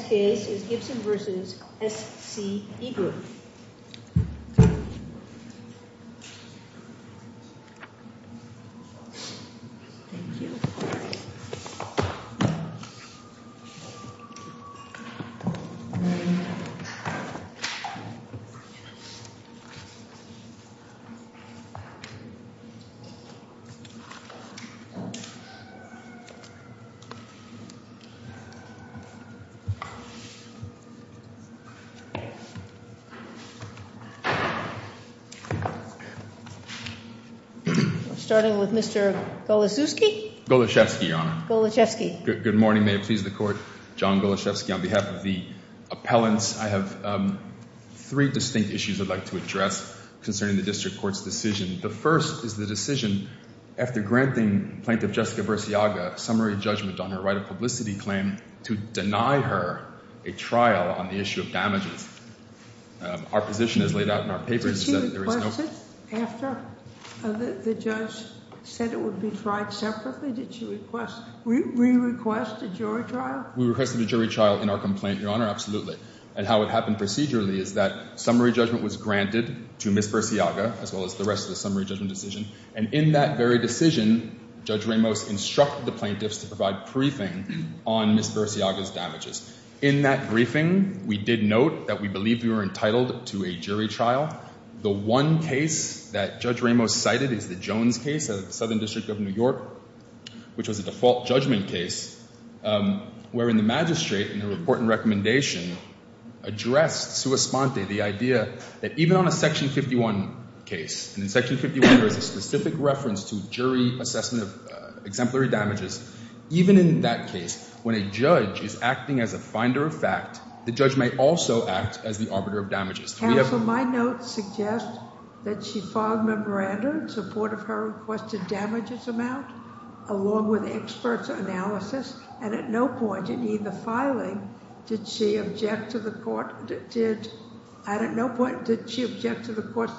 The next case is Gibson v. SCE Group. Starting with Mr. Goloszewski. Goloszewski, Your Honor. Goloszewski. Good morning. May it please the Court. John Goloszewski on behalf of the appellants. I have three distinct issues I'd like to address concerning the District Court's decision. The first is the decision, after granting Plaintiff Jessica Bersiaga summary judgment on her right of publicity claim, to deny her a trial on the issue of damages. Our position is laid out in our papers. Did she request it after the judge said it would be tried separately? Did she request, re-request a jury trial? We requested a jury trial in our complaint, Your Honor, absolutely. And how it happened procedurally is that summary judgment was granted to Ms. Bersiaga, as well as the rest of the summary judgment decision, and in that very decision, Judge Ramos instructed the plaintiffs to provide briefing on Ms. Bersiaga's damages. In that briefing, we did note that we believed we were entitled to a jury trial. The one case that Judge Ramos cited is the Jones case at the Southern District of New York, which was a default judgment case, wherein the magistrate in the report and recommendation addressed sua sponte, the idea that even on a Section 51 case, and in Section 51 there is a specific reference to jury assessment of exemplary damages, even in that case, when a judge is acting as a finder of fact, the judge may also act as the arbiter of damages. Counsel, my notes suggest that she filed memoranda in support of her requested damages amount, along with the expert's analysis, and at no point in either filing did she object to the court's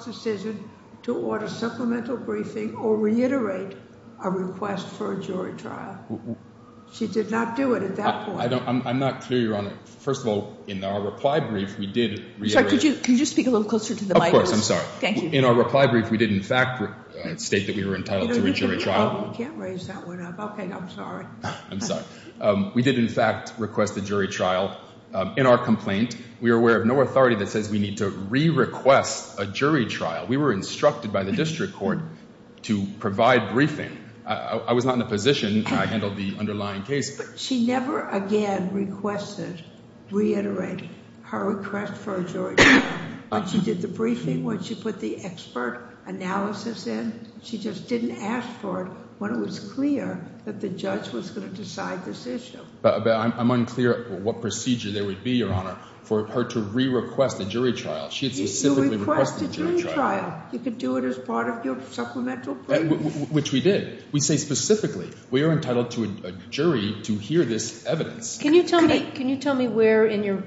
decision to order supplemental briefing or reiterate a request for a jury trial. She did not do it at that point. I'm not clear, Your Honor. First of all, in our reply brief, we did reiterate... Sorry, could you speak a little closer to the mic? Of course, I'm sorry. Thank you. In our reply brief, we did, in fact, state that we were entitled to a jury trial. You can't raise that one up. Okay, I'm sorry. I'm sorry. We did, in fact, request a jury trial. In our complaint, we are aware of no authority that says we need to re-request a jury trial. We were instructed by the district court to provide briefing. I was not in a position. I handled the underlying case. But she never again requested, reiterated her request for a jury trial. When she did the briefing, when she put the expert analysis in, she just didn't ask for it when it was clear that the judge was going to decide this issue. I'm unclear what procedure there would be, Your Honor, for her to re-request a jury trial. She had specifically requested a jury trial. You requested a jury trial. You could do it as part of your supplemental briefing. Which we did. We say specifically we are entitled to a jury to hear this evidence. Can you tell me where in your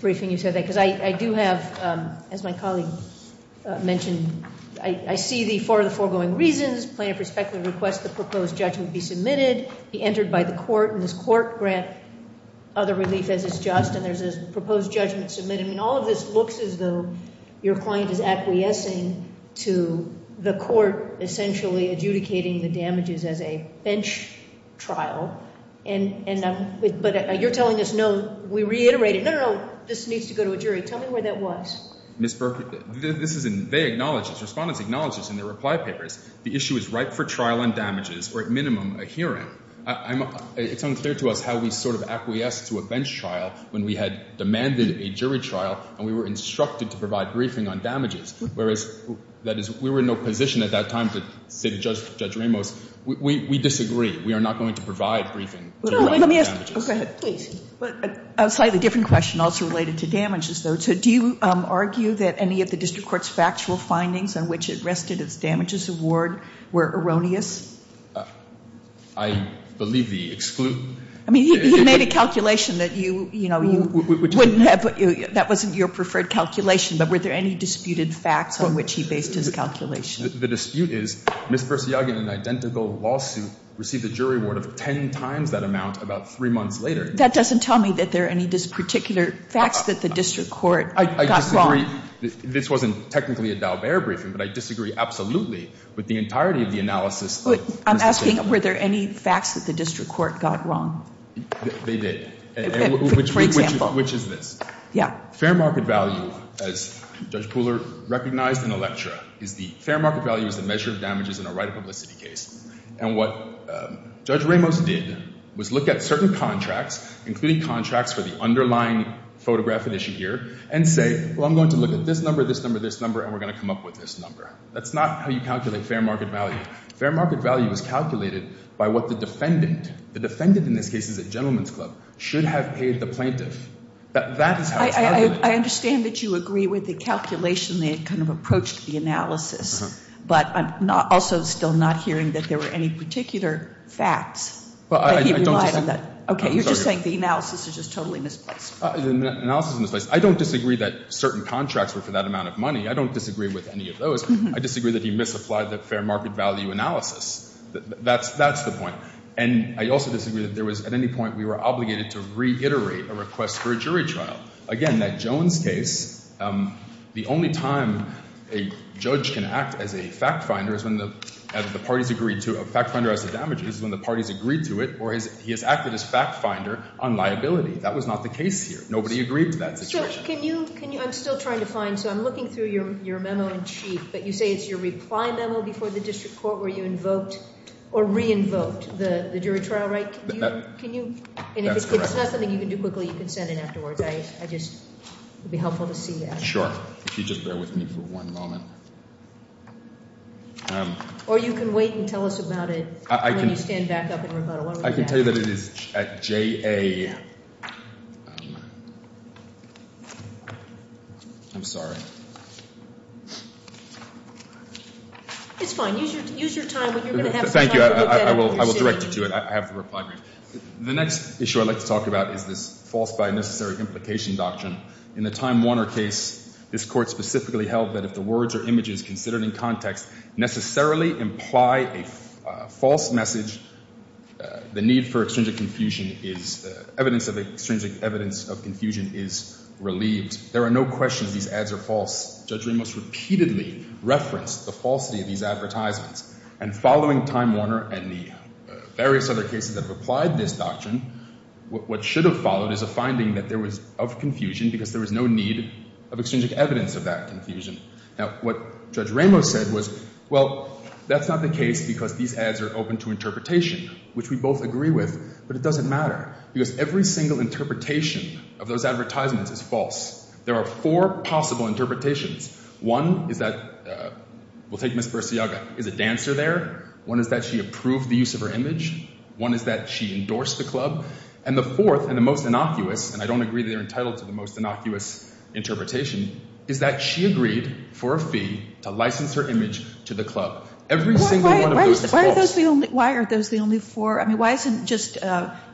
briefing you said that? Because I do have, as my colleague mentioned, I see the four of the foregoing reasons, plaintiff respectfully requests the proposed judgment be submitted, be entered by the court, and this court grant other relief as is just, and there's a proposed judgment submitted. I mean, all of this looks as though your client is acquiescing to the court essentially adjudicating the damages as a bench trial. But you're telling us no, we reiterated, no, no, no, this needs to go to a jury. Tell me where that was. Ms. Berkley, this is in, they acknowledge this, respondents acknowledge this in their reply papers. The issue is ripe for trial on damages or at minimum a hearing. It's unclear to us how we sort of acquiesced to a bench trial when we had demanded a jury trial and we were instructed to provide briefing on damages. Whereas, that is, we were in no position at that time to say to Judge Ramos, we disagree. We are not going to provide briefing on damages. No, let me ask, go ahead. Please. A slightly different question also related to damages, though. So do you argue that any of the district court's factual findings on which it rested as damages award were erroneous? I believe the exclude. I mean, he made a calculation that you, you know, you wouldn't have, that wasn't your preferred calculation, but were there any disputed facts on which he based his calculation? The dispute is Ms. Bersiaga in an identical lawsuit received a jury award of 10 times that amount about three months later. That doesn't tell me that there are any particular facts that the district court got wrong. I disagree. This wasn't technically a Dalbert briefing, but I disagree absolutely with the entirety of the analysis. I'm asking were there any facts that the district court got wrong? They did. For example. Which is this. Yeah. Fair market value, as Judge Pooler recognized in Electra, is the fair market value is the measure of damages in a right of publicity case. And what Judge Ramos did was look at certain contracts, including contracts for the underlying photograph edition here, and say, well, I'm going to look at this number, this number, this number, and we're going to come up with this number. That's not how you calculate fair market value. Fair market value is calculated by what the defendant, the defendant in this case is a gentleman's club, should have paid the plaintiff. That is how it's calculated. I understand that you agree with the calculation, the kind of approach to the analysis, but I'm also still not hearing that there were any particular facts that he relied on that. Well, I don't disagree. Okay. You're just saying the analysis is just totally misplaced. The analysis is misplaced. I don't disagree that certain contracts were for that amount of money. I don't disagree with any of those. I disagree that he misapplied the fair market value analysis. That's the point. And I also disagree that there was at any point we were obligated to reiterate a request for a jury trial. Again, that Jones case, the only time a judge can act as a fact finder is when the parties agreed to it. A fact finder has to damage it. This is when the parties agreed to it or he has acted as fact finder on liability. That was not the case here. Nobody agreed to that situation. So can you, can you, I'm still trying to find. So I'm looking through your memo in chief, but you say it's your reply memo before the district court where you invoked or re-invoked the jury trial, right? Can you, can you, and if it's not something you can do quickly, you can send it afterwards. I just, it would be helpful to see that. Sure. If you just bear with me for one moment. Or you can wait and tell us about it when you stand back up and rebuttal. I can tell you that it is at J.A. I'm sorry. It's fine. Use your time. Thank you. I will direct you to it. I have the reply. The next issue I'd like to talk about is this false by necessary implication doctrine. In the Time Warner case, this court specifically held that if the words or images considered in context necessarily imply a false message, the need for extrinsic confusion is, evidence of extrinsic evidence of confusion is relieved. There are no questions these ads are false. Judge Ramos repeatedly referenced the falsity of these advertisements. And following Time Warner and the various other cases that have applied this doctrine, what should have followed is a finding that there was of confusion because there was no need of extrinsic evidence of that confusion. Now, what Judge Ramos said was, well, that's not the case because these ads are open to interpretation, which we both agree with. But it doesn't matter because every single interpretation of those advertisements is false. There are four possible interpretations. One is that, we'll take Ms. Bersiaga, is a dancer there? One is that she approved the use of her image. One is that she endorsed the club. And the fourth and the most innocuous, and I don't agree they're entitled to the most innocuous interpretation, is that she agreed for a fee to license her image to the club. Every single one of those is false. Why are those the only four? I mean, why isn't just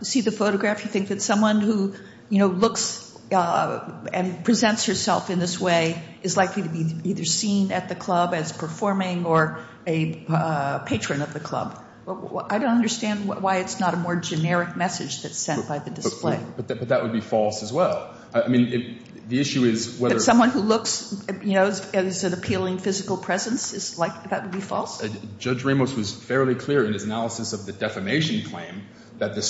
see the photograph, you think that someone who, you know, looks and presents herself in this way is likely to be either seen at the club as performing or a patron of the club? I don't understand why it's not a more generic message that's sent by the display. But that would be false as well. I mean, the issue is whether – That someone who looks, you know, is an appealing physical presence is like – that would be false? Judge Ramos was fairly clear in his analysis of the defamation claim that the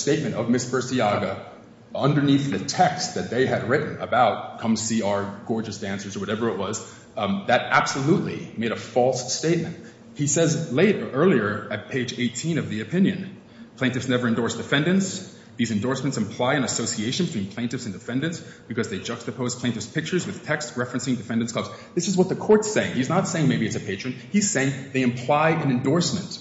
they had written about Come See Our Gorgeous Dancers or whatever it was. That absolutely made a false statement. He says later, earlier at page 18 of the opinion, Plaintiffs never endorse defendants. These endorsements imply an association between plaintiffs and defendants because they juxtapose plaintiffs' pictures with text referencing defendants' clubs. This is what the court's saying. He's not saying maybe it's a patron. He's saying they imply an endorsement.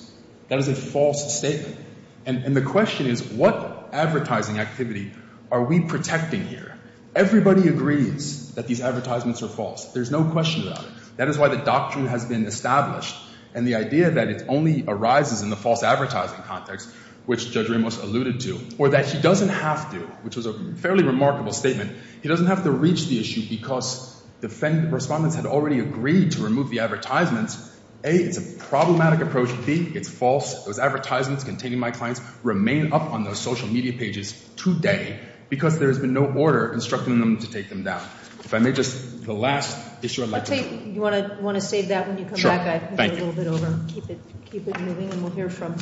That is a false statement. And the question is, what advertising activity are we protecting here? Everybody agrees that these advertisements are false. There's no question about it. That is why the doctrine has been established. And the idea that it only arises in the false advertising context, which Judge Ramos alluded to, or that he doesn't have to, which was a fairly remarkable statement, he doesn't have to reach the issue because defendant respondents had already agreed to remove the advertisements. A, it's a problematic approach. B, it's false. Those advertisements containing my clients remain up on those social media pages today because there has been no order instructing them to take them down. If I may, just the last issue I'd like to do. I think you want to save that when you come back. Sure. Thank you. I've moved it a little bit over. Keep it moving and we'll hear from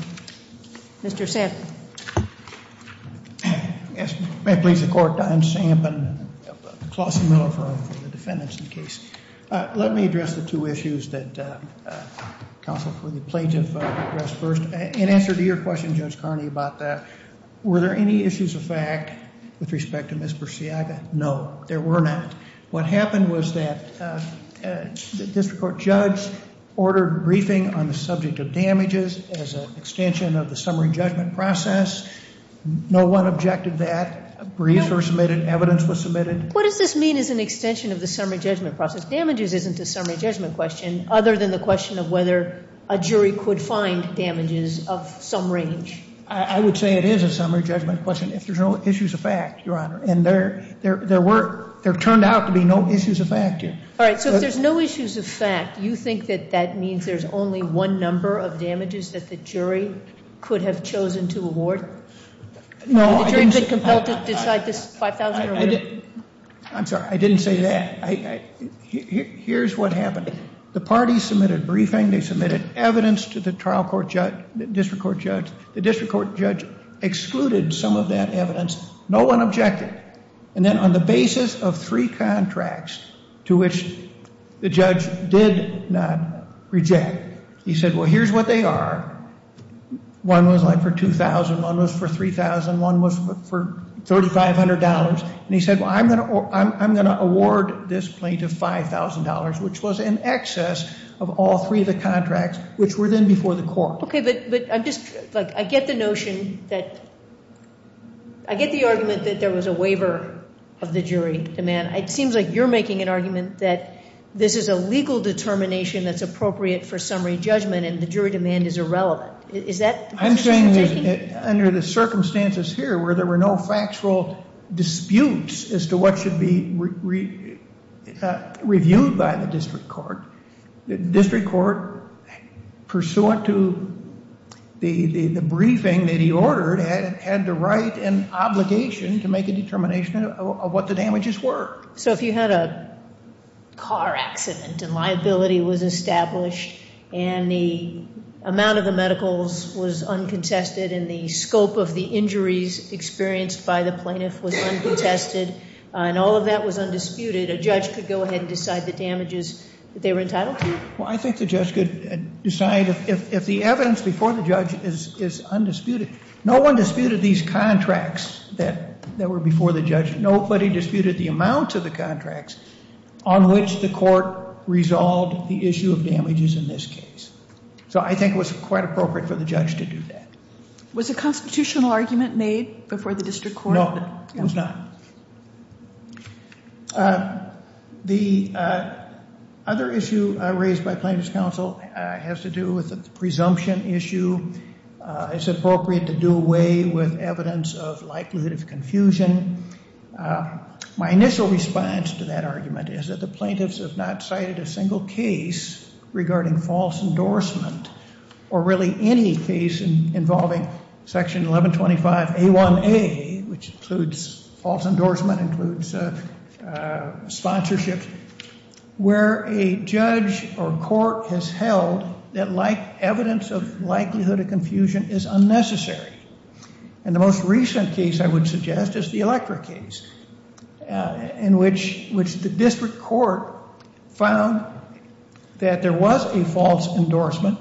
Mr. Sampson. Yes. May it please the Court, Diane Sampson, and Klausie Miller for the defendants in the case. Let me address the two issues that counsel for the plaintiff addressed first. In answer to your question, Judge Carney, about that, were there any issues of fact with respect to Ms. Persiaga? No, there were not. What happened was that the district court judge ordered briefing on the subject of damages as an extension of the summary judgment process. No one objected to that. Briefs were submitted. Evidence was submitted. What does this mean as an extension of the summary judgment process? Damages isn't a summary judgment question, other than the question of whether a jury could find damages of some range. I would say it is a summary judgment question if there's no issues of fact, Your Honor, and there turned out to be no issues of fact yet. All right. So if there's no issues of fact, you think that that means there's only one number of damages that the jury could have chosen to award? No, I didn't say that. I'm sorry. I didn't say that. Here's what happened. The party submitted briefing. They submitted evidence to the trial court judge, district court judge. The district court judge excluded some of that evidence. No one objected. And then on the basis of three contracts to which the judge did not reject, he said, well, here's what they are. One was, like, for $2,000. One was for $3,000. One was for $3,500. And he said, well, I'm going to award this plaintiff $5,000, which was in excess of all three of the contracts, which were then before the court. Okay, but I get the notion that – I get the argument that there was a waiver of the jury demand. It seems like you're making an argument that this is a legal determination that's appropriate for summary judgment and the jury demand is irrelevant. I'm saying that under the circumstances here where there were no factual disputes as to what should be reviewed by the district court, the district court, pursuant to the briefing that he ordered, had the right and obligation to make a determination of what the damages were. So if you had a car accident and liability was established and the amount of the medicals was uncontested and the scope of the injuries experienced by the plaintiff was uncontested and all of that was undisputed, a judge could go ahead and decide the damages that they were entitled to? Well, I think the judge could decide if the evidence before the judge is undisputed. No one disputed these contracts that were before the judge. Nobody disputed the amount of the contracts on which the court resolved the issue of damages in this case. So I think it was quite appropriate for the judge to do that. Was a constitutional argument made before the district court? No, it was not. The other issue raised by plaintiff's counsel has to do with the presumption issue. It's appropriate to do away with evidence of likelihood of confusion. My initial response to that argument is that the plaintiffs have not cited a single case regarding false endorsement or really any case involving Section 1125A1A, which includes false endorsement, includes sponsorship, where a judge or court has held that evidence of likelihood of confusion is unnecessary. And the most recent case I would suggest is the electric case, in which the district court found that there was a false endorsement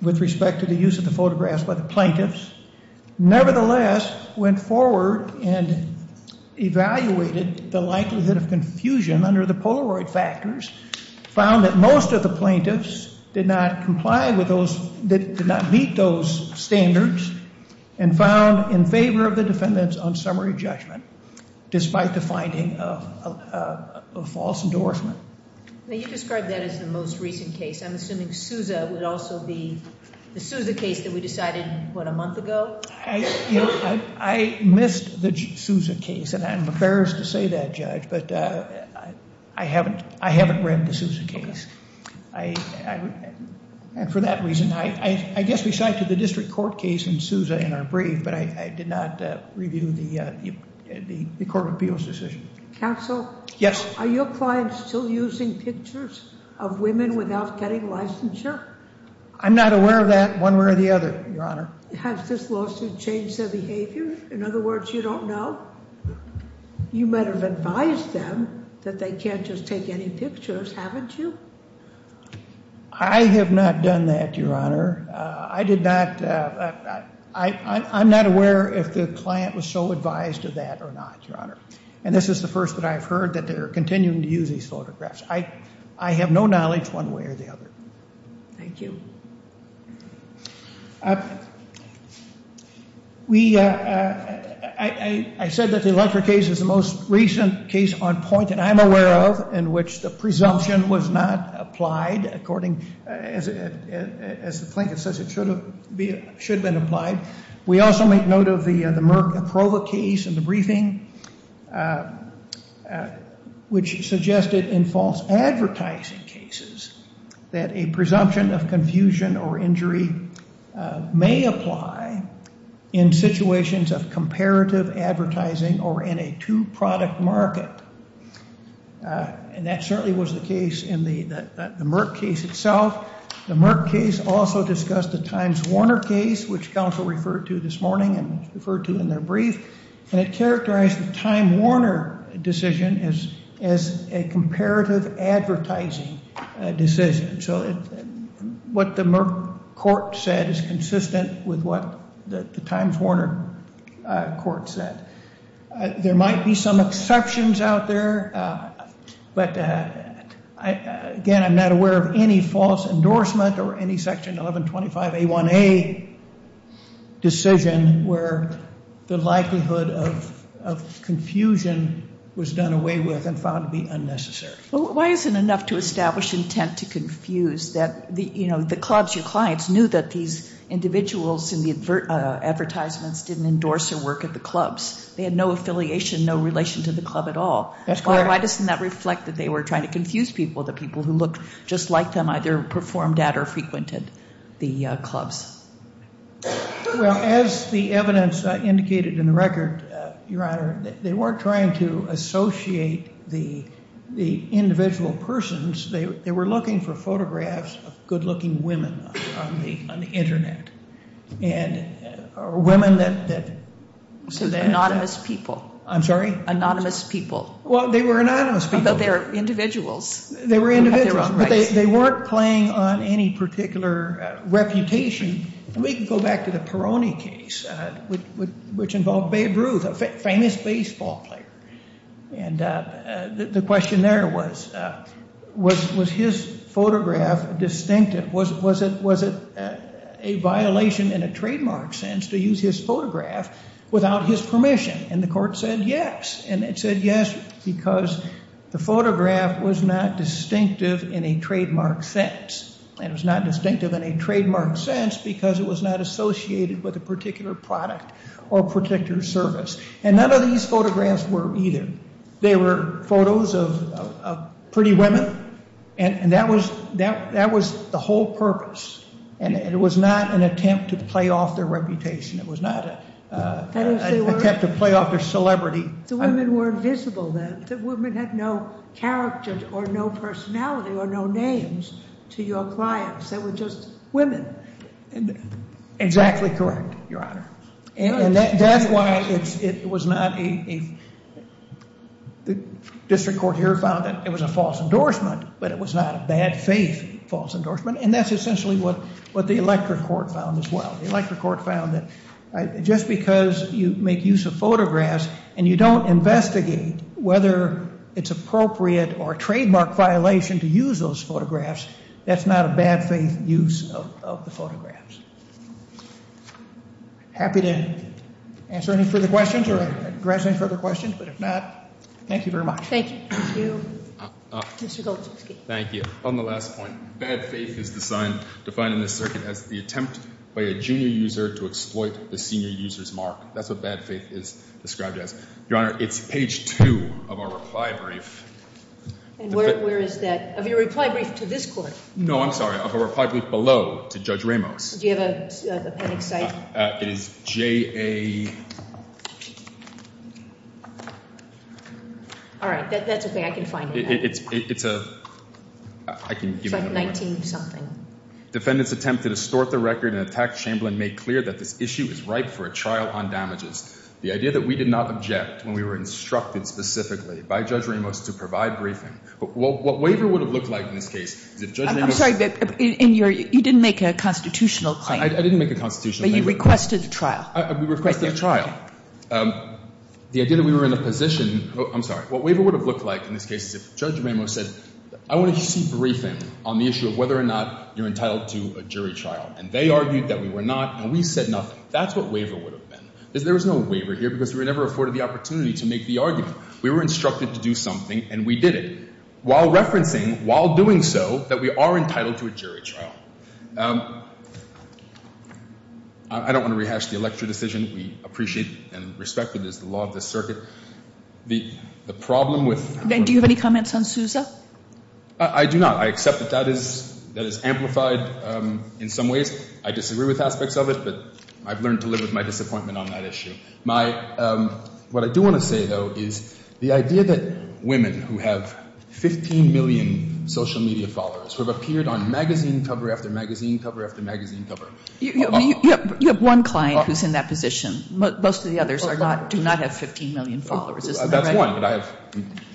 with respect to the use of the photographs by the plaintiffs, nevertheless went forward and evaluated the likelihood of confusion under the Polaroid factors, found that most of the plaintiffs did not comply with those, did not meet those standards, and found in favor of the defendants on summary judgment, despite the finding of false endorsement. Now you described that as the most recent case. I'm assuming Sousa would also be the Sousa case that we decided, what, a month ago? I missed the Sousa case, and I'm embarrassed to say that, Judge, but I haven't read the Sousa case. And for that reason, I guess we cited the district court case and Sousa in our brief, but I did not review the court of appeals decision. Counsel? Yes. Are your clients still using pictures of women without getting licensure? I'm not aware of that one way or the other, Your Honor. Has this lawsuit changed their behavior? In other words, you don't know? You might have advised them that they can't just take any pictures, haven't you? I have not done that, Your Honor. I did not ‑‑ I'm not aware if the client was so advised of that or not, Your Honor. And this is the first that I've heard that they're continuing to use these photographs. I have no knowledge one way or the other. Thank you. We ‑‑ I said that the electric case is the most recent case on point that I'm aware of in which the presumption was not applied, according, as the plaintiff says, it should have been applied. We also make note of the Merck aprova case in the briefing, which suggested in false advertising cases that a presumption of confusion or injury may apply in situations of comparative advertising or in a two‑product market. And that certainly was the case in the Merck case itself. The Merck case also discussed the Times Warner case, which counsel referred to this morning and referred to in their brief, and it characterized the Time Warner decision as a comparative advertising decision. So what the Merck court said is consistent with what the Times Warner court said. There might be some exceptions out there. But, again, I'm not aware of any false endorsement or any Section 1125A1A decision where the likelihood of confusion was done away with and found to be unnecessary. Well, why is it enough to establish intent to confuse that, you know, the clubs, your clients, knew that these individuals in the advertisements didn't endorse their work at the clubs? They had no affiliation, no relation to the club at all. That's correct. Why doesn't that reflect that they were trying to confuse people, the people who looked just like them either performed at or frequented the clubs? Well, as the evidence indicated in the record, Your Honor, they weren't trying to associate the individual persons. They were looking for photographs of good-looking women on the Internet and women that... Anonymous people. I'm sorry? Anonymous people. Well, they were anonymous people. But they were individuals. They were individuals. But they weren't playing on any particular reputation. We can go back to the Peroni case, which involved Babe Ruth, a famous baseball player. And the question there was, was his photograph distinctive? Was it a violation in a trademark sense to use his photograph without his permission? And the court said yes. And it said yes because the photograph was not distinctive in a trademark sense. It was not distinctive in a trademark sense because it was not associated with a particular product or particular service. And none of these photographs were either. They were photos of pretty women, and that was the whole purpose. And it was not an attempt to play off their reputation. It was not an attempt to play off their celebrity. The women were invisible then. The women had no character or no personality or no names to your clients. They were just women. Exactly correct, Your Honor. And that's why it was not a... The district court here found that it was a false endorsement, but it was not a bad faith false endorsement. And that's essentially what the electorate court found as well. The electorate court found that just because you make use of photographs and you don't investigate whether it's appropriate or a trademark violation to use those photographs, that's not a bad faith use of the photographs. Happy to answer any further questions or address any further questions. But if not, thank you very much. Thank you. Mr. Goldschutzky. Thank you. On the last point, bad faith is defined in this circuit as the attempt by a junior user to exploit the senior user's mark. That's what bad faith is described as. Your Honor, it's page 2 of our reply brief. And where is that? Of your reply brief to this court? No, I'm sorry. Of our reply brief below to Judge Ramos. Do you have an appendix cited? It is J.A.... All right. That's okay. I can find it. It's a... It's like 19 something. Defendant's attempt to distort the record and attack Chamberlain made clear that this issue is ripe for a trial on damages. The idea that we did not object when we were instructed specifically by Judge Ramos to provide briefing... What waiver would have looked like in this case is if Judge Ramos... I'm sorry. You didn't make a constitutional claim. I didn't make a constitutional claim. But you requested a trial. We requested a trial. The idea that we were in a position... I'm sorry. What waiver would have looked like in this case is if Judge Ramos said, I want to see briefing on the issue of whether or not you're entitled to a jury trial. And they argued that we were not, and we said nothing. That's what waiver would have been. There was no waiver here because we were never afforded the opportunity to make the argument. We were instructed to do something, and we did it. While referencing, while doing so, that we are entitled to a jury trial. I don't want to rehash the election decision. We appreciate and respect it as the law of the circuit. The problem with... Do you have any comments on Sousa? I do not. I accept that that is amplified in some ways. I disagree with aspects of it, but I've learned to live with my disappointment on that issue. My... What I do want to say, though, is the idea that women who have 15 million social media followers, who have appeared on magazine cover after magazine cover after magazine cover... You have one client who's in that position. Most of the others are not, do not have 15 million followers. Isn't that right? That's one, but I have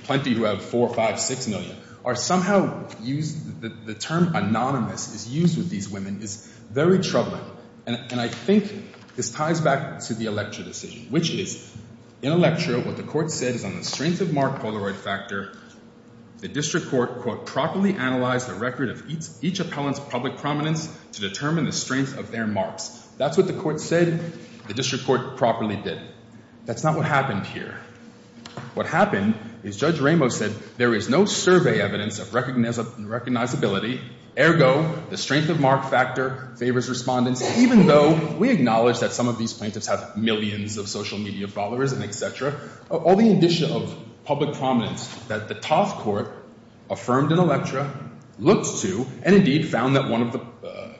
plenty who have four, five, six million. Or somehow, the term anonymous is used with these women is very troubling. And I think this ties back to the election decision, which is, in a lecture, what the court said is on the strength of mark Polaroid factor. The district court, quote, properly analyzed the record of each appellant's public prominence to determine the strength of their marks. That's what the court said the district court properly did. That's not what happened here. What happened is Judge Ramos said, there is no survey evidence of recognizability. Ergo, the strength of mark factor favors respondents, even though we acknowledge that some of these plaintiffs have millions of social media followers and et cetera. All the indicia of public prominence that the Toff Court affirmed in a lecture, looked to, and indeed found that one of the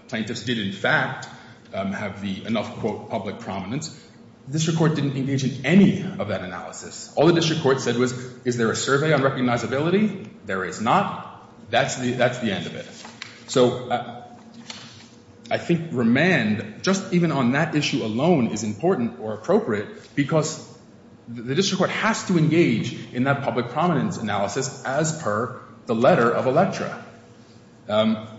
plaintiffs did in fact have the enough, quote, public prominence. The district court didn't engage in any of that analysis. All the district court said was, is there a survey on recognizability? There is not. That's the end of it. So I think remand, just even on that issue alone, is important or appropriate because the district court has to engage in that public prominence analysis as per the letter of Electra. If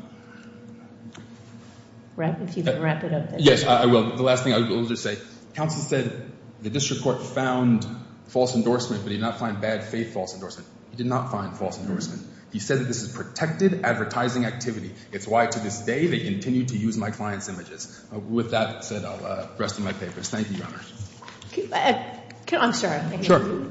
you can wrap it up there. Yes, I will. The last thing I will just say, counsel said the district court found false endorsement, but he did not find bad faith false endorsement. He did not find false endorsement. He said that this is protected advertising activity. It's why to this day they continue to use my client's images. With that said, the rest of my papers. Thank you, Your Honor. I'm sorry. Sure.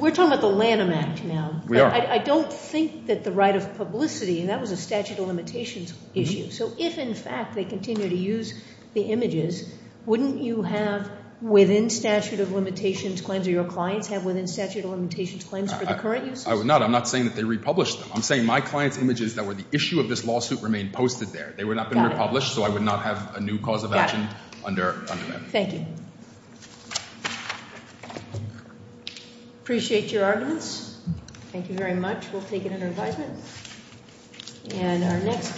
We're talking about the Lanham Act now. We are. I don't think that the right of publicity, and that was a statute of limitations issue. So if in fact they continue to use the images, wouldn't you have within statute of limitations claims or your clients have within statute of limitations claims for the current uses? I would not. I'm not saying that they republish them. I'm saying my client's images that were the issue of this lawsuit remain posted there. They would not have been republished, so I would not have a new cause of action under that. Thank you. Appreciate your arguments. Thank you very much. We'll take it under advisement. And our next case.